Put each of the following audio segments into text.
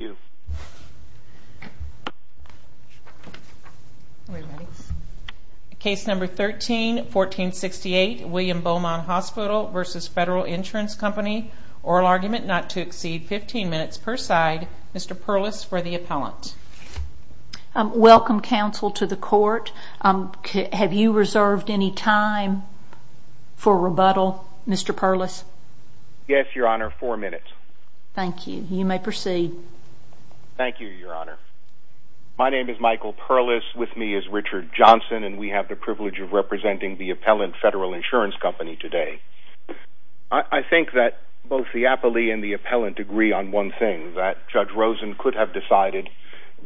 Oral argument not to exceed 15 minutes per side. Mr. Perlis for the appellant. Welcome, counsel, to the court. Have you reserved any time for rebuttal, Mr. Perlis? Yes, Your Honor. Four minutes. Mr. Perlis. Thank you, Your Honor. My name is Michael Perlis. With me is Richard Johnson, and we have the privilege of representing the appellant federal insurance company today. I think that both the appellee and the appellant agree on one thing, that Judge Rosen could have decided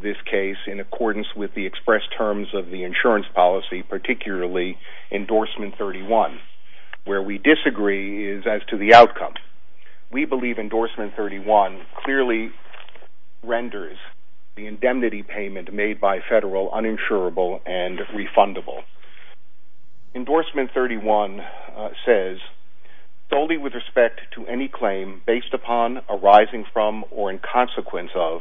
this case in accordance with the expressed terms of the insurance policy, particularly endorsement 31. Where we disagree is as to the outcome. We believe endorsement 31 clearly renders the indemnity payment made by federal uninsurable and refundable. Endorsement 31 says solely with respect to any claim based upon arising from or in consequence of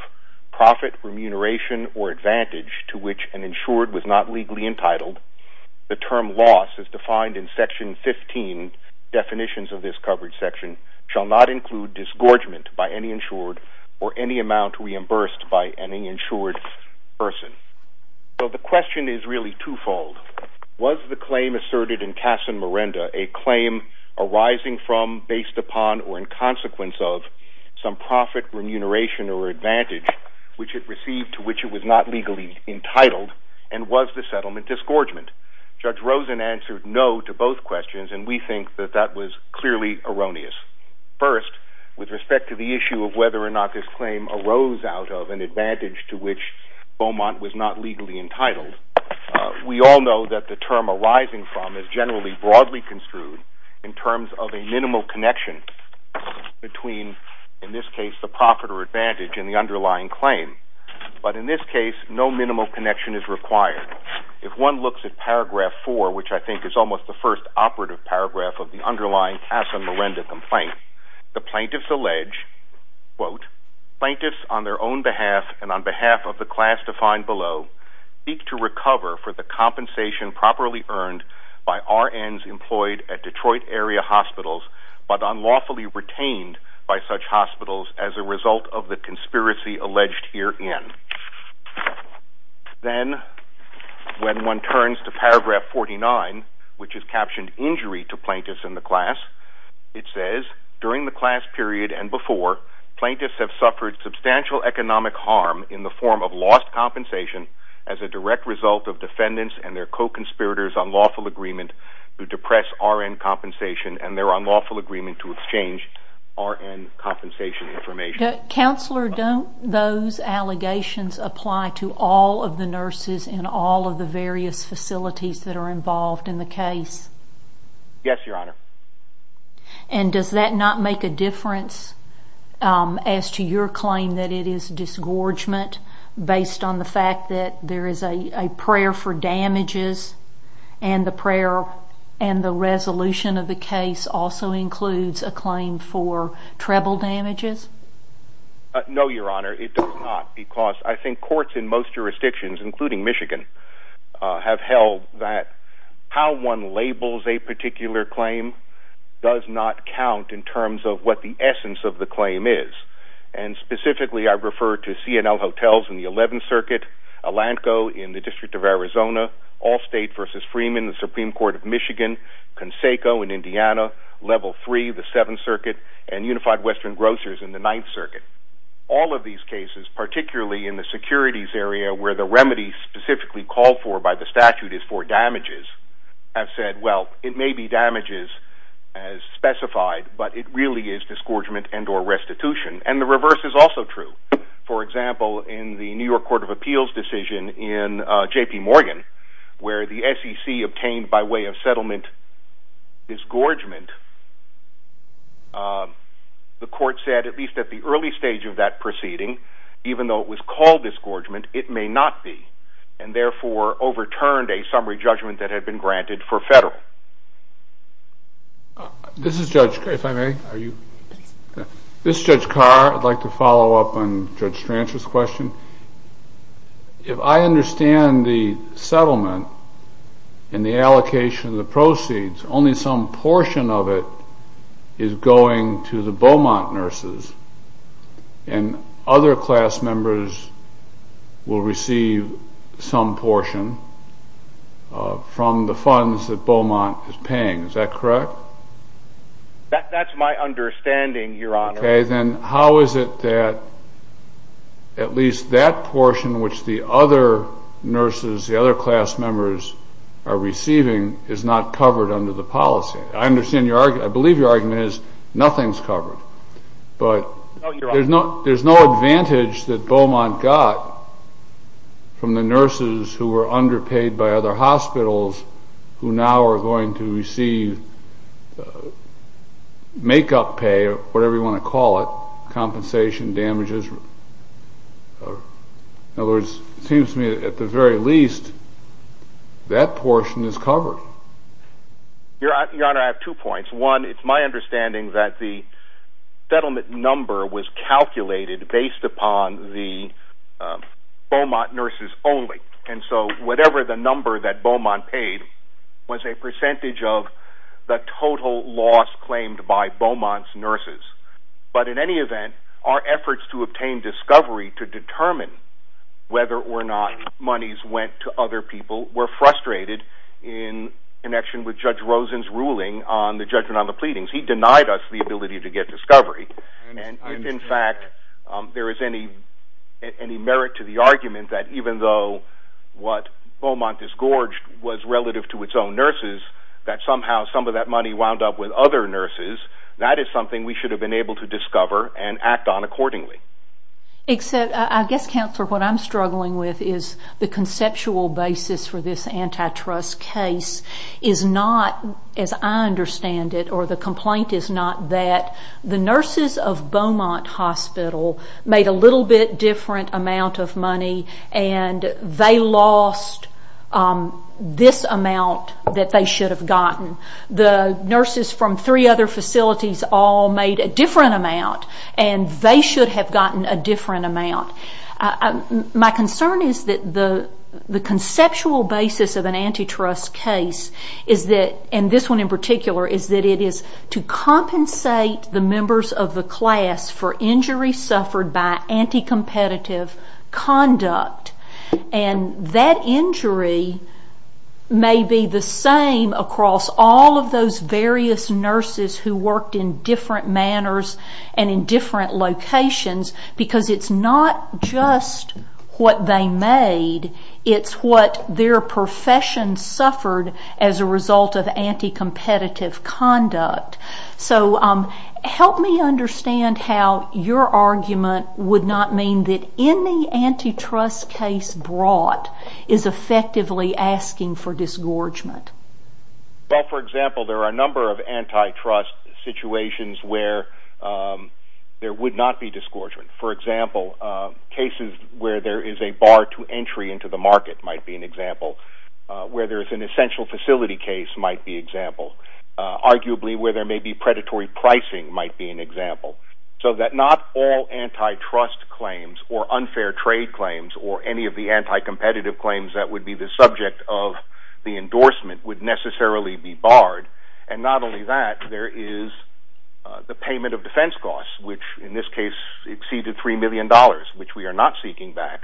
profit, remuneration, or advantage to which an insured was not legally entitled. The term loss is defined in Section 15. Definitions of this coverage section shall not include disgorgement by any insured or any amount reimbursed by any insured person. So the question is really twofold. Was the claim asserted in Casa Merenda a claim arising from, based upon, or in consequence of some profit, remuneration, or advantage which it received to which it was not legally entitled, and was the settlement disgorgement? Judge Rosen answered no to both questions, and we think that that was clearly erroneous. First, with respect to the issue of whether or not this claim arose out of an advantage to which Beaumont was not legally entitled, we all know that the term arising from is generally broadly construed in terms of a minimal connection between, in this case, the profit or advantage in the underlying claim. But in this case, no minimal connection is required. If one looks at Paragraph 4, which I think is almost the first operative paragraph of the underlying Casa Merenda complaint, the plaintiffs allege, quote, plaintiffs on their own behalf and on behalf of the class defined below seek to recover for the compensation properly earned by RNs employed at Detroit area hospitals, but unlawfully retained by such hospitals as a result of the conspiracy alleged herein. Then, when one turns to Paragraph 49, which is captioned Injury to Plaintiffs in the Class, it says, during the class period and before, plaintiffs have suffered substantial economic harm in the form of lost compensation as a direct result of defendants and their co-conspirators' unlawful agreement to depress RN compensation and their unlawful agreement to exchange RN compensation information. Counselor, don't those allegations apply to all of the nurses in all of the various facilities that are involved in the case? Yes, Your Honor. And does that not make a difference as to your claim that it is disgorgement based on the fact that there is a prayer for damages and the prayer and the resolution of the case also includes a claim for treble damages? No, Your Honor. It does not because I think courts in most jurisdictions, including Michigan, have held that how one labels a particular claim does not count in terms of what the essence of the claim is. And specifically, I refer to C&L Hotels in the 11th Circuit, Alanco in the District of Arizona, Allstate v. Freeman in the Supreme Court of Michigan, Conseco in Indiana, Level 3, the 7th Circuit, and Unified Western Grocers in the 9th Circuit. All of these cases, particularly in the securities area where the remedy specifically called for by the statute is for damages, have said, well, it may be damages as specified, but it really is disgorgement and or restitution. And the reverse is also true. For example, in the New York Court of Appeals decision in J.P. Morgan, where the SEC obtained by way of settlement disgorgement, the court said, at least at the early stage of that proceeding, even though it was called disgorgement, it may not be, and therefore overturned a summary judgment that had been granted for federal. This is Judge Carr. I'd like to follow up on Judge Stranch's question. If I understand the settlement and the allocation of the proceeds, only some portion of it is going to the Beaumont nurses, and other class members will receive some portion from the funds that Beaumont is paying, is that correct? That's my understanding, Your Honor. Okay, then how is it that at least that portion, which the other nurses, the other class members are receiving, is not covered under the policy? I understand your argument. I believe your argument is nothing's covered, but there's no advantage that Beaumont got from the nurses who were underpaid by other hospitals, who now are going to receive make-up pay, or whatever you want to call it, compensation damages. In other words, it seems to me that at the very least, that portion is covered. Your Honor, I have two points. One, it's my understanding that the settlement number was calculated based upon the Beaumont nurses only, and so whatever the number that Beaumont paid was a percentage of the total loss claimed by Beaumont's nurses. But in any event, our efforts to obtain discovery to determine whether or not monies went to other people were frustrated in connection with Judge Rosen's ruling on the judgment on the pleadings. He denied us the ability to get discovery, and in fact, there is any merit to the argument that even though what Beaumont disgorged was relative to its own nurses, that somehow some of that money wound up with other nurses, that is something we should have been able to discover and act on accordingly. I guess, Counselor, what I'm struggling with is the conceptual basis for this antitrust case is not, as I understand it, or the complaint is not that the nurses of Beaumont Hospital made a little bit different amount of money, and they lost this amount that they should have gotten. The nurses from three other facilities all made a different amount, and they should have gotten a different amount. My concern is that the conceptual basis of an antitrust case, and this one in particular, is that it is to compensate the members of the class for injury suffered by anti-competitive conduct. That injury may be the same across all of those various nurses who worked in different manners and in different It's what their profession suffered as a result of anti-competitive conduct. Help me understand how your argument would not mean that any antitrust case brought is effectively asking for disgorgement. For example, there are a number of antitrust situations where there would not be disgorgement. For example, cases where there is a bar to entry into the market might be an example. Where there is an essential facility case might be an example. Arguably, where there may be predatory pricing might be an example. So that not all antitrust claims or unfair trade claims or any of the anti-competitive claims that would be the subject of the endorsement would necessarily be barred. And not only that, there is the payment of defense costs, which in this case exceeded $3 million, which we are not seeking back,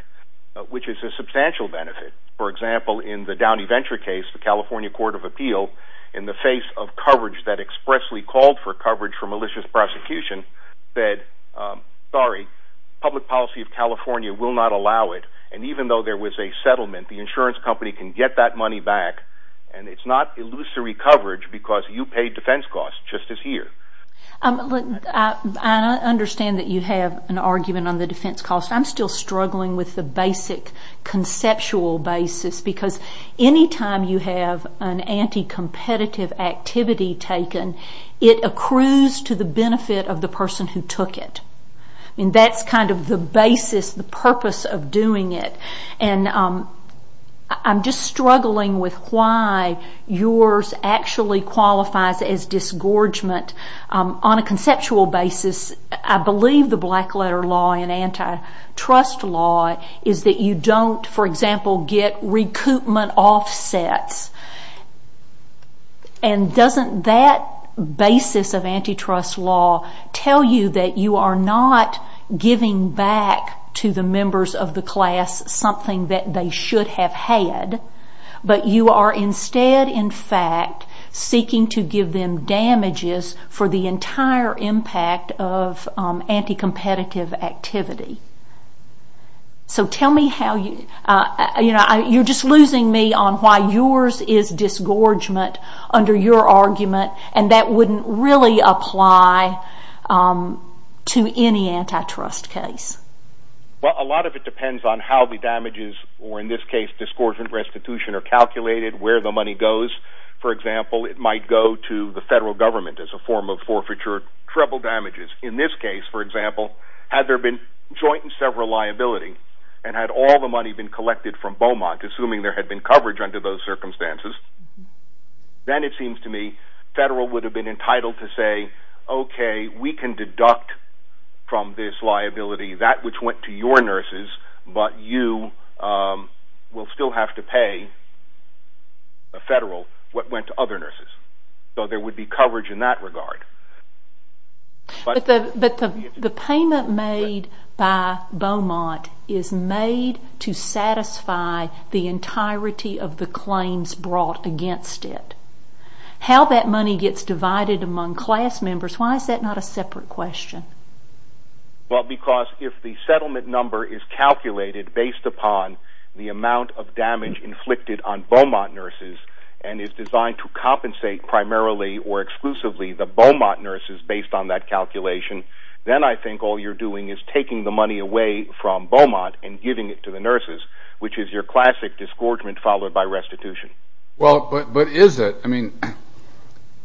which is a substantial benefit. For example, in the Downey Venture case, the California Court of Appeal, in the face of coverage that expressly called for coverage for malicious prosecution, said, sorry, public policy of California will not allow it. And even though there was a settlement, the insurance company can get that money back. And it's not illusory coverage because you paid defense costs just this year. I understand that you have an argument on the defense costs. I'm still struggling with the basic conceptual basis because any time you have an anti-competitive activity taken, it accrues to the benefit of the person who took it. And that's kind of the basis, the purpose of doing it. And I'm just struggling with why yours actually qualifies as disgorgement on a conceptual basis. I believe the black letter law and antitrust law is that you don't, for example, get recoupment offsets. And doesn't that basis of antitrust law tell you that you are not giving back to the members of the class something that they should have had, but you are instead in fact seeking to give them damages for the entire impact of anti-competitive activity. So tell me, you are just losing me on why yours is disgorgement under your argument and that wouldn't really apply to any antitrust case. Well, a lot of it depends on how the damages, or in this case disgorgement, restitution are calculated, where the money goes. For example, it might go to the federal government as a form of forfeiture, treble damages. In this case, for example, had there been joint and several liability and had all the money been collected from Beaumont, assuming there had been coverage under those circumstances, then it seems to me federal would have been entitled to say, okay, we can deduct from this liability that which went to your nurses, but you will still have to pay the federal what went to other nurses. So there would be coverage in that regard. But the payment made by Beaumont is made to satisfy the entirety of the claims brought against it. How that money gets divided among class members, why is that not a separate question? Well, because if the settlement number is calculated based upon the amount of damage inflicted on Beaumont nurses and is designed to compensate primarily or exclusively the Beaumont nurses based on that calculation, then I think all you're doing is taking the money away from Beaumont and giving it to the nurses, which is your classic disgorgement followed by restitution. Well, but is it? I mean,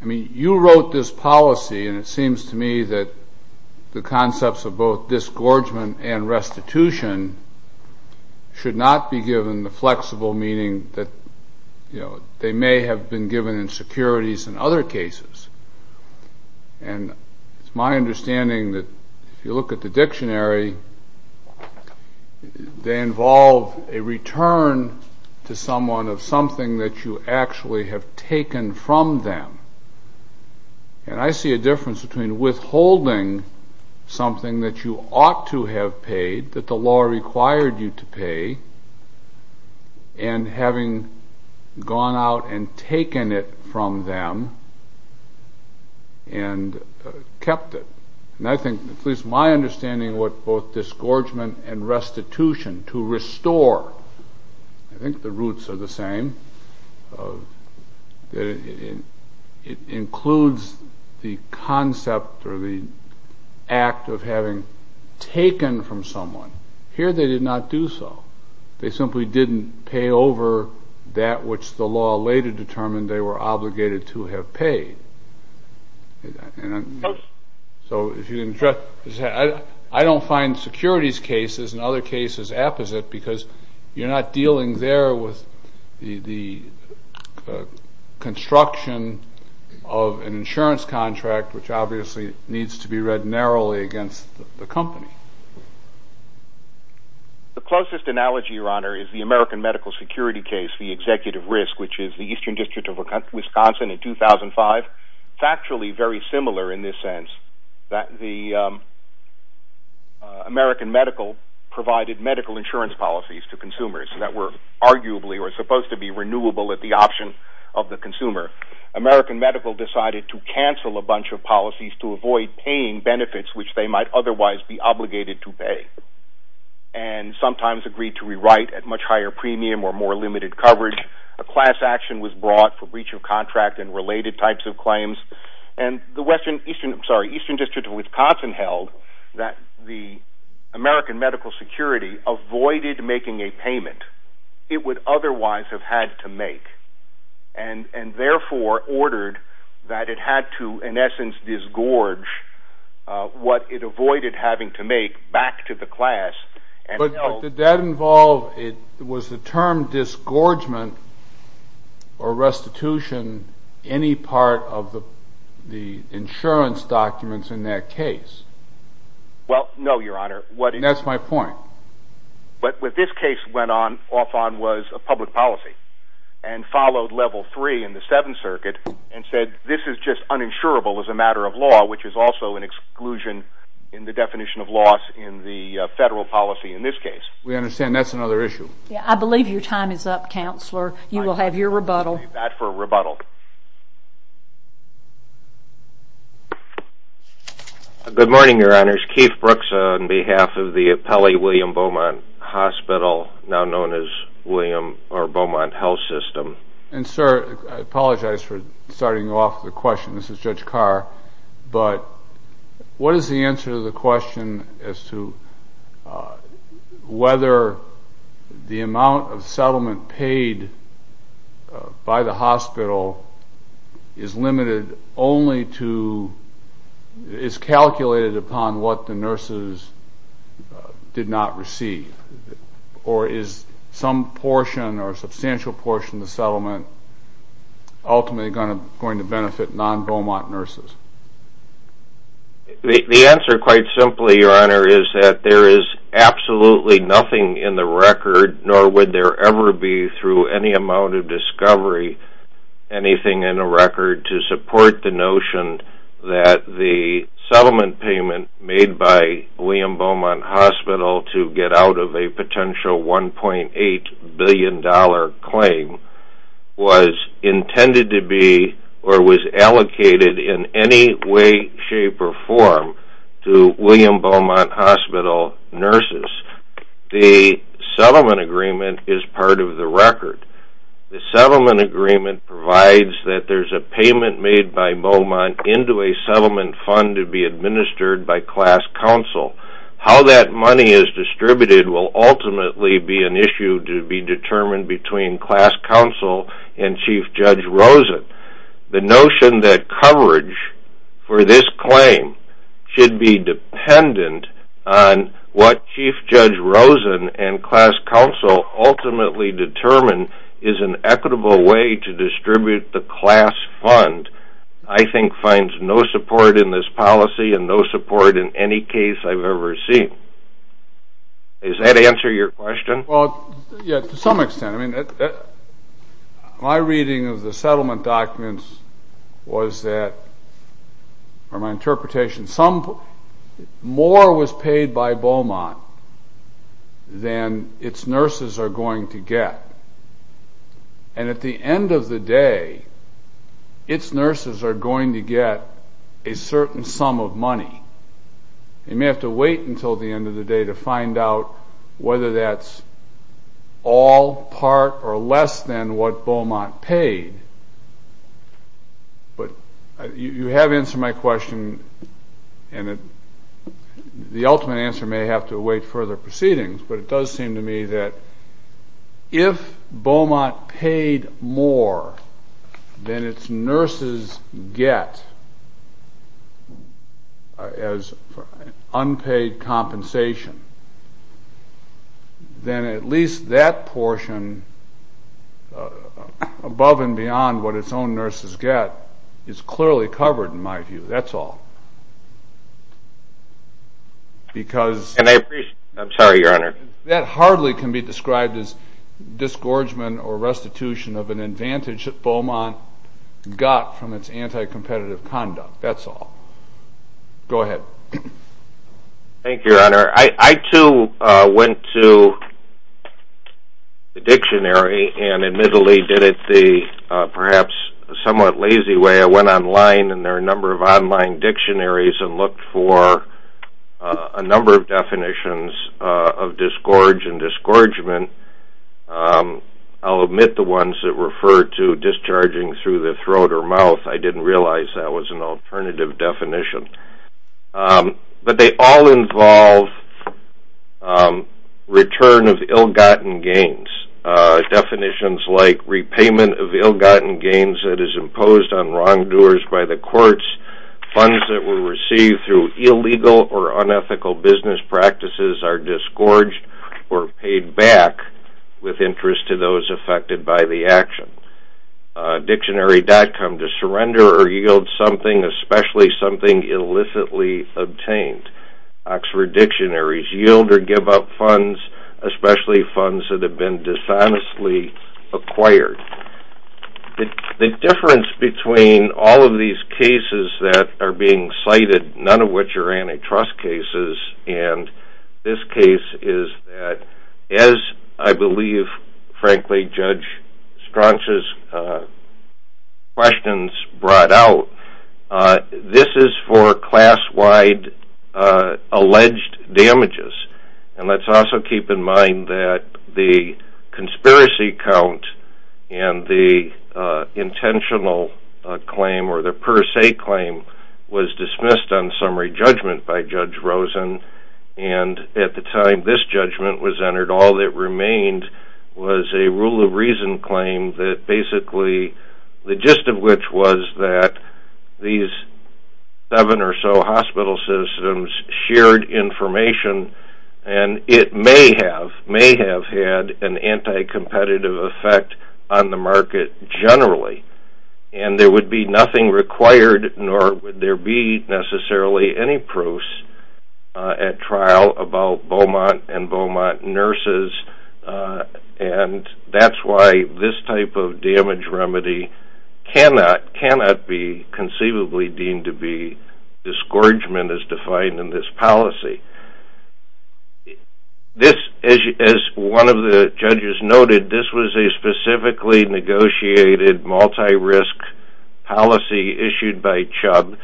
you wrote this policy and it seems to me that the concepts of both disgorgement and restitution should not be given the flexible meaning that they may have been given in securities in other cases. And it's my understanding that if you look at the dictionary, they involve a return to someone of something that you actually have taken from them. And I see a difference between withholding something that you ought to have paid that the law required you to pay and having gone out and taken it from them and kept it. And I think at least my understanding of what both disgorgement and restitution is that it includes the concept or the act of having taken from someone. Here they did not do so. They simply didn't pay over that which the law later determined they were obligated to have paid. So I don't find securities cases and other cases apposite because you're not dealing there with the construction of an insurance contract, which obviously needs to be read narrowly against the company. The closest analogy, your honor, is the American medical security case, the executive risk, which is the Eastern District of Wisconsin in 2005. It's actually very similar in this sense that the American medical provided medical insurance policies to consumers that were arguably or supposed to be renewable at the option of the consumer. American medical decided to cancel a bunch of policies to avoid paying benefits which they might otherwise be obligated to pay and sometimes agreed to rewrite at much higher premium or more limited coverage. A class action was held that the American medical security avoided making a payment it would otherwise have had to make and therefore ordered that it had to in essence disgorge what it avoided having to make back to the class. But did that involve, was the term disgorgement or restitution any part of the insurance documents in that case? Well, no, your honor. And that's my point. But what this case went off on was a public policy and followed level three in the seventh circuit and said this is just uninsurable as a matter of law, which is also an exclusion in the definition of loss in the federal policy in this case. We understand that's another issue. I believe your time is up, counselor. You will have your rebuttal. Good morning, your honors. Keith Brooks on behalf of the Pele William Beaumont Hospital, now known as William or Beaumont Health System. And sir, I apologize for starting off the question. This is Judge Carr. But what is the answer to the question as to whether the amount of settlement paid by the hospital is limited only to, is calculated upon what the nurses did not receive? Or is some portion or substantial portion of the settlement ultimately going to benefit non-Beaumont nurses? The answer, quite simply, your honor, is that there is absolutely nothing in the record, nor would there ever be through any amount of discovery, anything in the record to support the notion that the settlement payment made by William Beaumont Hospital to get out of a potential $1.8 billion claim was intended to be, or was allocated in any way, shape, or form to William Beaumont Hospital nurses. The settlement agreement is part of the record. The settlement agreement provides that there's a payment made by Beaumont into a settlement fund to be administered by class counsel. How that money is distributed will ultimately be an issue to be determined between class counsel and Chief Judge Rosen. The notion that coverage for this claim should be dependent on what Chief Judge Rosen and class counsel ultimately determine is an equitable way to distribute the class fund, I think, finds no support in this policy and no support in any case I've ever seen. Does that answer your question? Well, yeah, to some extent. My reading of the settlement documents was that, or my interpretation, more was paid by Beaumont than its nurses are going to get. And at the end of the day, its nurses are going to get a certain sum of money. They may have to wait until the end of the day to find out whether that's all part or less than what Beaumont paid. But you have answered my question, and the ultimate answer may have to If Beaumont paid more than its nurses get as unpaid compensation, then at least that portion above and beyond what its own nurses get is clearly covered in my view. That's all. I'm sorry, Your Honor. That hardly can be described as disgorgement or restitution of an advantage that Beaumont got from its anti-competitive conduct. That's all. Go ahead. Thank you, Your Honor. I, too, went to the dictionary and admittedly did it the perhaps somewhat lazy way. I went online and there are a number of online dictionaries and looked for a number of definitions of disgorge and disgorgement. I'll omit the ones that refer to discharging through the throat or mouth. I didn't realize that was an alternative definition. But they all involve return of ill-gotten gains. Definitions like repayment of ill-gotten gains that is imposed on wrongdoers by the courts. Funds that were received through illegal or unethical business practices are disgorged or paid back with interest to those affected by the action. Dictionary.com. To surrender or yield something, especially something illicitly obtained. Oxford Dictionary. Yield or give up funds, especially funds that have been dishonestly acquired. The difference between all of these cases that are being cited, none of which are antitrust cases, and this case is that as I believe frankly Judge Strachan's questions brought out, this is for class-wide alleged damages. And let's also keep in mind that the conspiracy count and the intentional claim or the per se claim was dismissed on summary judgment by Judge Rosen and at the time this judgment was entered, all that remained was a rule of reason claim that basically the gist of which was that these seven or so hospital systems shared information and it may have had an anti-competitive effect on the market generally. And there would be nothing required nor would there be necessarily any proofs in that trial about Beaumont and Beaumont nurses and that's why this type of damage remedy cannot be conceivably deemed to be disgorgement as defined in this policy. This, as one of the judges noted, this was a specifically negotiated multi-risk policy issued by Chubb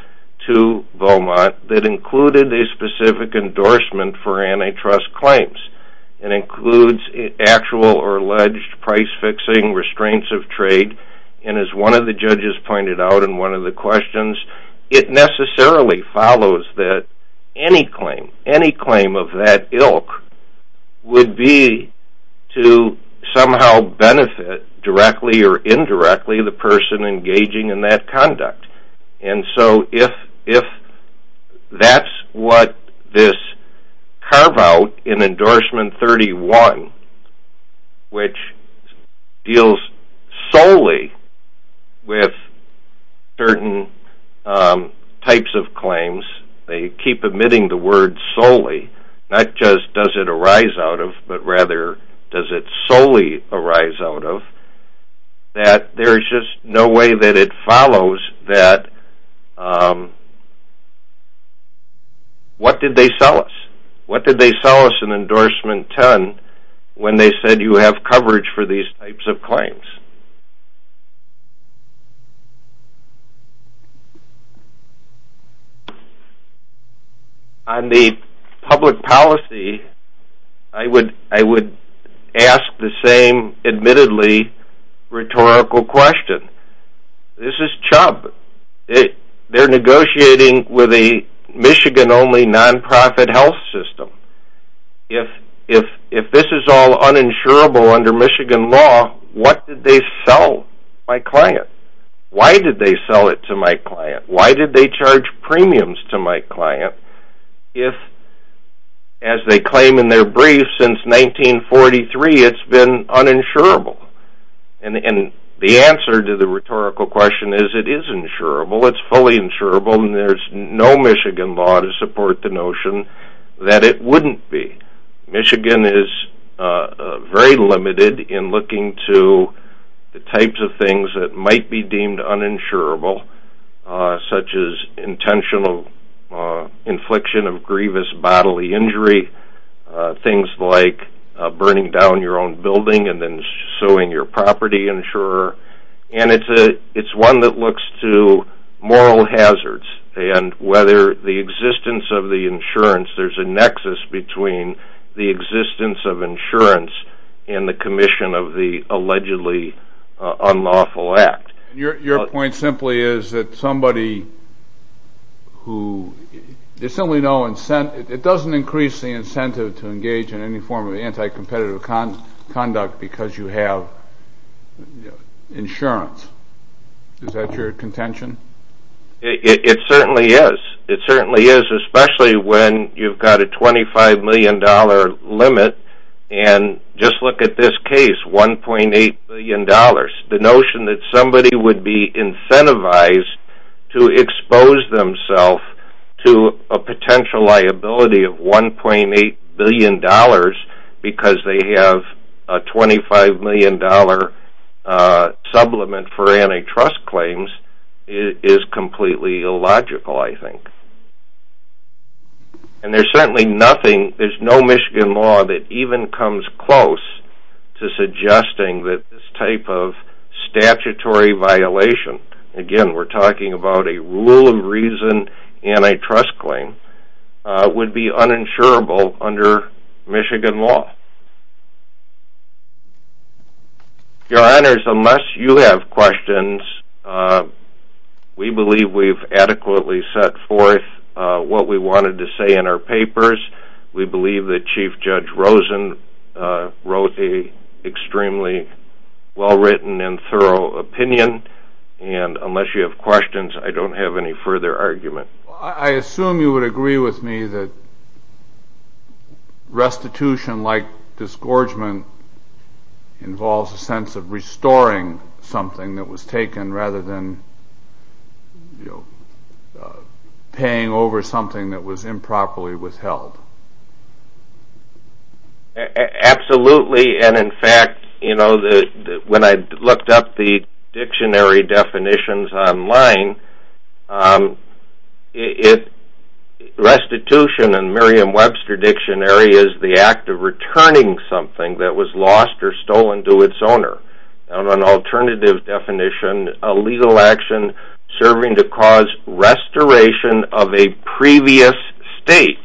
to Beaumont that included a specific endorsement for antitrust claims. It includes actual or alleged price-fixing restraints of trade and as one of the judges pointed out in one of the questions, it necessarily follows that any claim, any claim of that ilk would be to somehow benefit directly or indirectly the person engaging in that conduct. And so if that's what this carve-out in Endorsement 31 which deals solely with certain types of claims, they does it solely arise out of, that there is just no way that it follows that what did they sell us? What did they sell us in Endorsement 10 when they said you have coverage for these types of claims? On the public policy, I would ask the same admittedly rhetorical question. This is Chubb. They're negotiating with a Michigan-only non-profit health system. If this is all uninsurable under Michigan law, what did they sell my client? Why did they sell it to my client? Why did they charge premiums to my client if as they claim in their brief since 1943 it's been uninsurable? And the answer to the rhetorical question is it is insurable. It's no Michigan law to support the notion that it wouldn't be. Michigan is very limited in looking to the types of things that might be deemed uninsurable such as intentional infliction of grievous bodily injury, things like burning down your own building and then suing your property insurer. And it's one that looks to moral hazards and whether the existence of the insurance, there's a nexus between the existence of insurance and the commission of the allegedly unlawful act. Your point simply is that somebody who, there's simply no incentive, it doesn't increase the incentive to insurance. Is that your contention? It certainly is. It certainly is, especially when you've got a $25 million limit. And just look at this case, $1.8 billion. The notion that somebody would be incentivized to expose themselves to a potential liability of $1.8 billion because they have a $25 million supplement for antitrust claims is completely illogical, I think. And there's certainly nothing, there's no Michigan law that even comes close to suggesting that this type of statutory violation, again we're talking about a rule of reason antitrust claim, would be uninsurable under Michigan law. Your Honors, unless you have questions, we believe we've adequately set forth what we wanted to say in our papers. We believe that Chief Judge Rosen wrote an extremely well-written and thorough opinion, and unless you have questions, I don't have any further argument. I assume you would agree with me that restitution like disgorgement involves a sense of restoring something that was taken rather than paying over something that was improperly withheld. Absolutely, and in fact, when I looked up the dictionary definitions online, restitution in the Merriam-Webster dictionary is the act of returning something that was lost or stolen to its owner. On an alternative definition, a legal action serving to cause restoration of a previous state.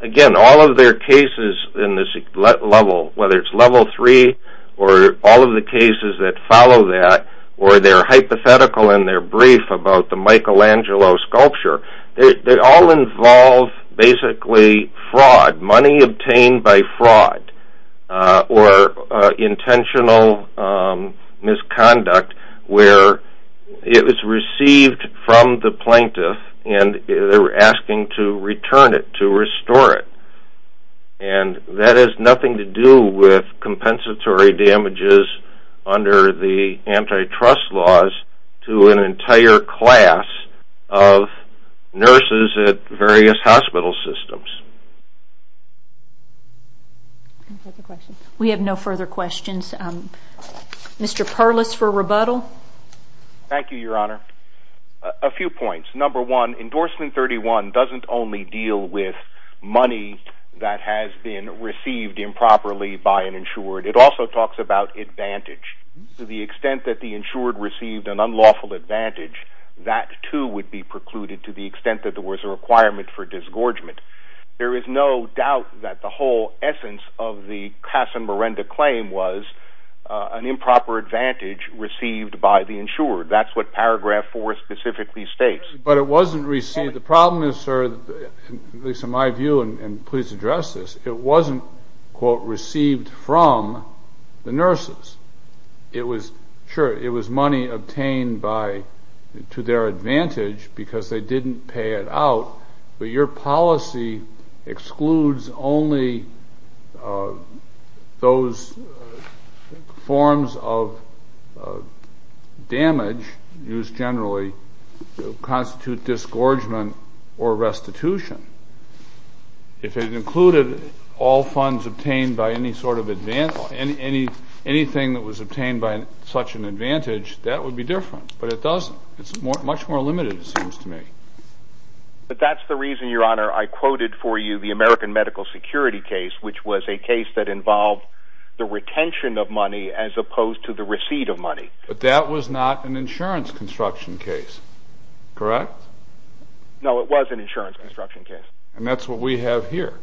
Again, all of their cases in this level, whether it's level three or all of the cases that follow that, or their hypothetical in their brief about the Michelangelo sculpture, they all involve basically fraud, money obtained by fraud, or intentional misconduct where it was received from the plaintiff and they were asking to return it, to restore it. And that has nothing to do with compensatory damages under the antitrust laws to an entire class of nurses at various hospital systems. We have no further questions. Mr. Perlis for rebuttal. Thank you, Your Honor. A few points. Number one, endorsement 31 doesn't only deal with money that has been received improperly by an insured. It also talks about advantage. To the extent that the insured received an unlawful advantage, that too would be precluded to the extent that there was a requirement for disgorgement. There is no doubt that the whole essence of the Casamarenda claim was an improper advantage received by the insured. That's what paragraph four specifically states. But it wasn't received. The problem is, sir, at least in my view, and please address this, it wasn't, quote, received from the nurses. It was, sure, it was money obtained by, to their advantage because they didn't pay it out. But your policy excludes only those forms of damage used generally to constitute disgorgement or restitution. If it included all funds obtained by any sort of advantage, anything that was obtained by such an advantage, that would be different. But it doesn't. It's much more limited, it seems to me. But that's the reason, Your Honor, I quoted for you the American medical security case, which was a case that involved the retention of money as opposed to the receipt of money. But that was not an insurance construction case, correct? No, it was an insurance construction case. And that's what we have here.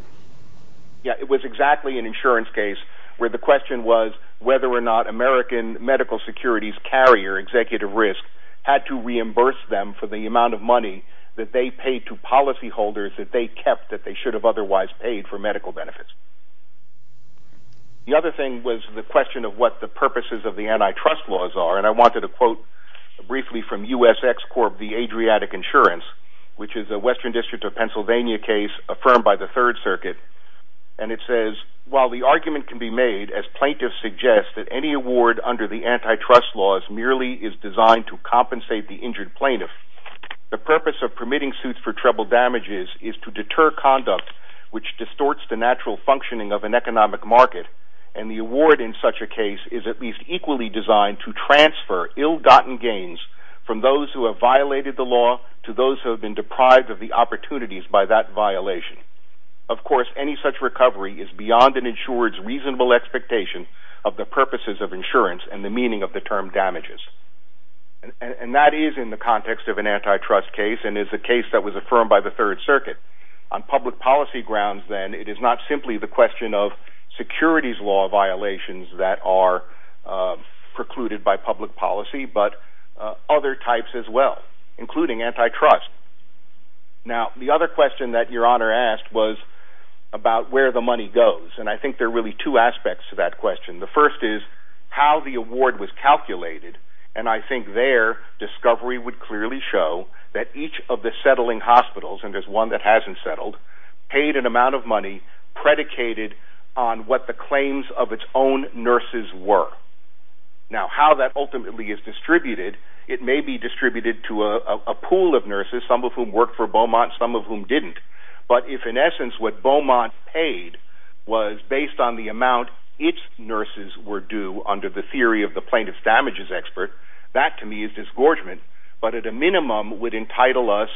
Yeah, it was exactly an insurance case where the question was whether or not American medical security's carrier, executive risk, had to reimburse them for the amount of money that they paid to policyholders that they kept that they should have otherwise paid for medical benefits. The other thing was the question of what the purposes of the antitrust laws are. And I wanted a quote briefly from USX Corp. The Adriatic Insurance, which is a Western District of Pennsylvania case affirmed by the Third Circuit. And it says, while the argument can be made as plaintiffs suggest that any award under the antitrust laws merely is designed to compensate the injured plaintiff, the purpose of permitting suits for treble damages is to deter conduct which distorts the natural functioning of an economic market. And the award in such a case is at least equally designed to transfer ill-gotten gains from those who have violated the law to those who have been deprived of the opportunities by that violation. Of course, any such recovery is beyond an insurer's reasonable expectation of the purposes of insurance and the meaning of the term damages. And that is in the context of an antitrust case and is a case that was affirmed by the Third Circuit. On public policy grounds, then, it is not simply the question of securities law violations that are precluded by public policy, but other types as well, including antitrust. Now, the other question that Your Honor asked was about where the money goes. And I think there are really two aspects to that question. The first is how the award was calculated. And I think there discovery would clearly show that each of the settling hospitals, and there's one that hasn't settled, paid an amount of money predicated on what the claims of its own nurses were. Now, how that ultimately is distributed, it may be distributed to a pool of nurses, some of whom worked for Beaumont, some of whom didn't. But if, in essence, what Beaumont paid was based on the amount its nurses were due under the theory of the plaintiff's damages expert, that, to me, is disgorgement, but at a minimum would entitle us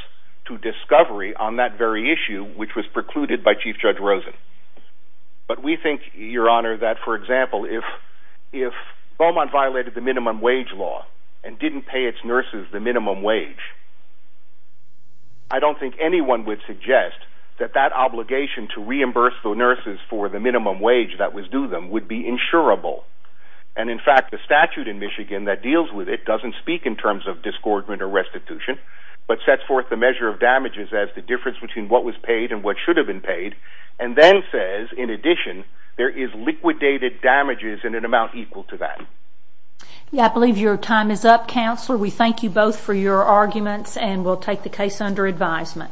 to discovery on that very issue, which was precluded by Chief Judge Rosen. But we think, Your Honor, that, for example, if Beaumont violated the minimum wage law and didn't pay its nurses the minimum wage, I don't think anyone would suggest that that obligation to reimburse the nurses for the minimum wage that was due them would be insurable. And, in fact, the statute in Michigan that deals with it doesn't speak in terms of disgorgement or restitution, but sets forth the measure of damages as the difference between what was paid and what should have been paid, and then says, in addition, there is We thank you both for your arguments, and we'll take the case under advisement.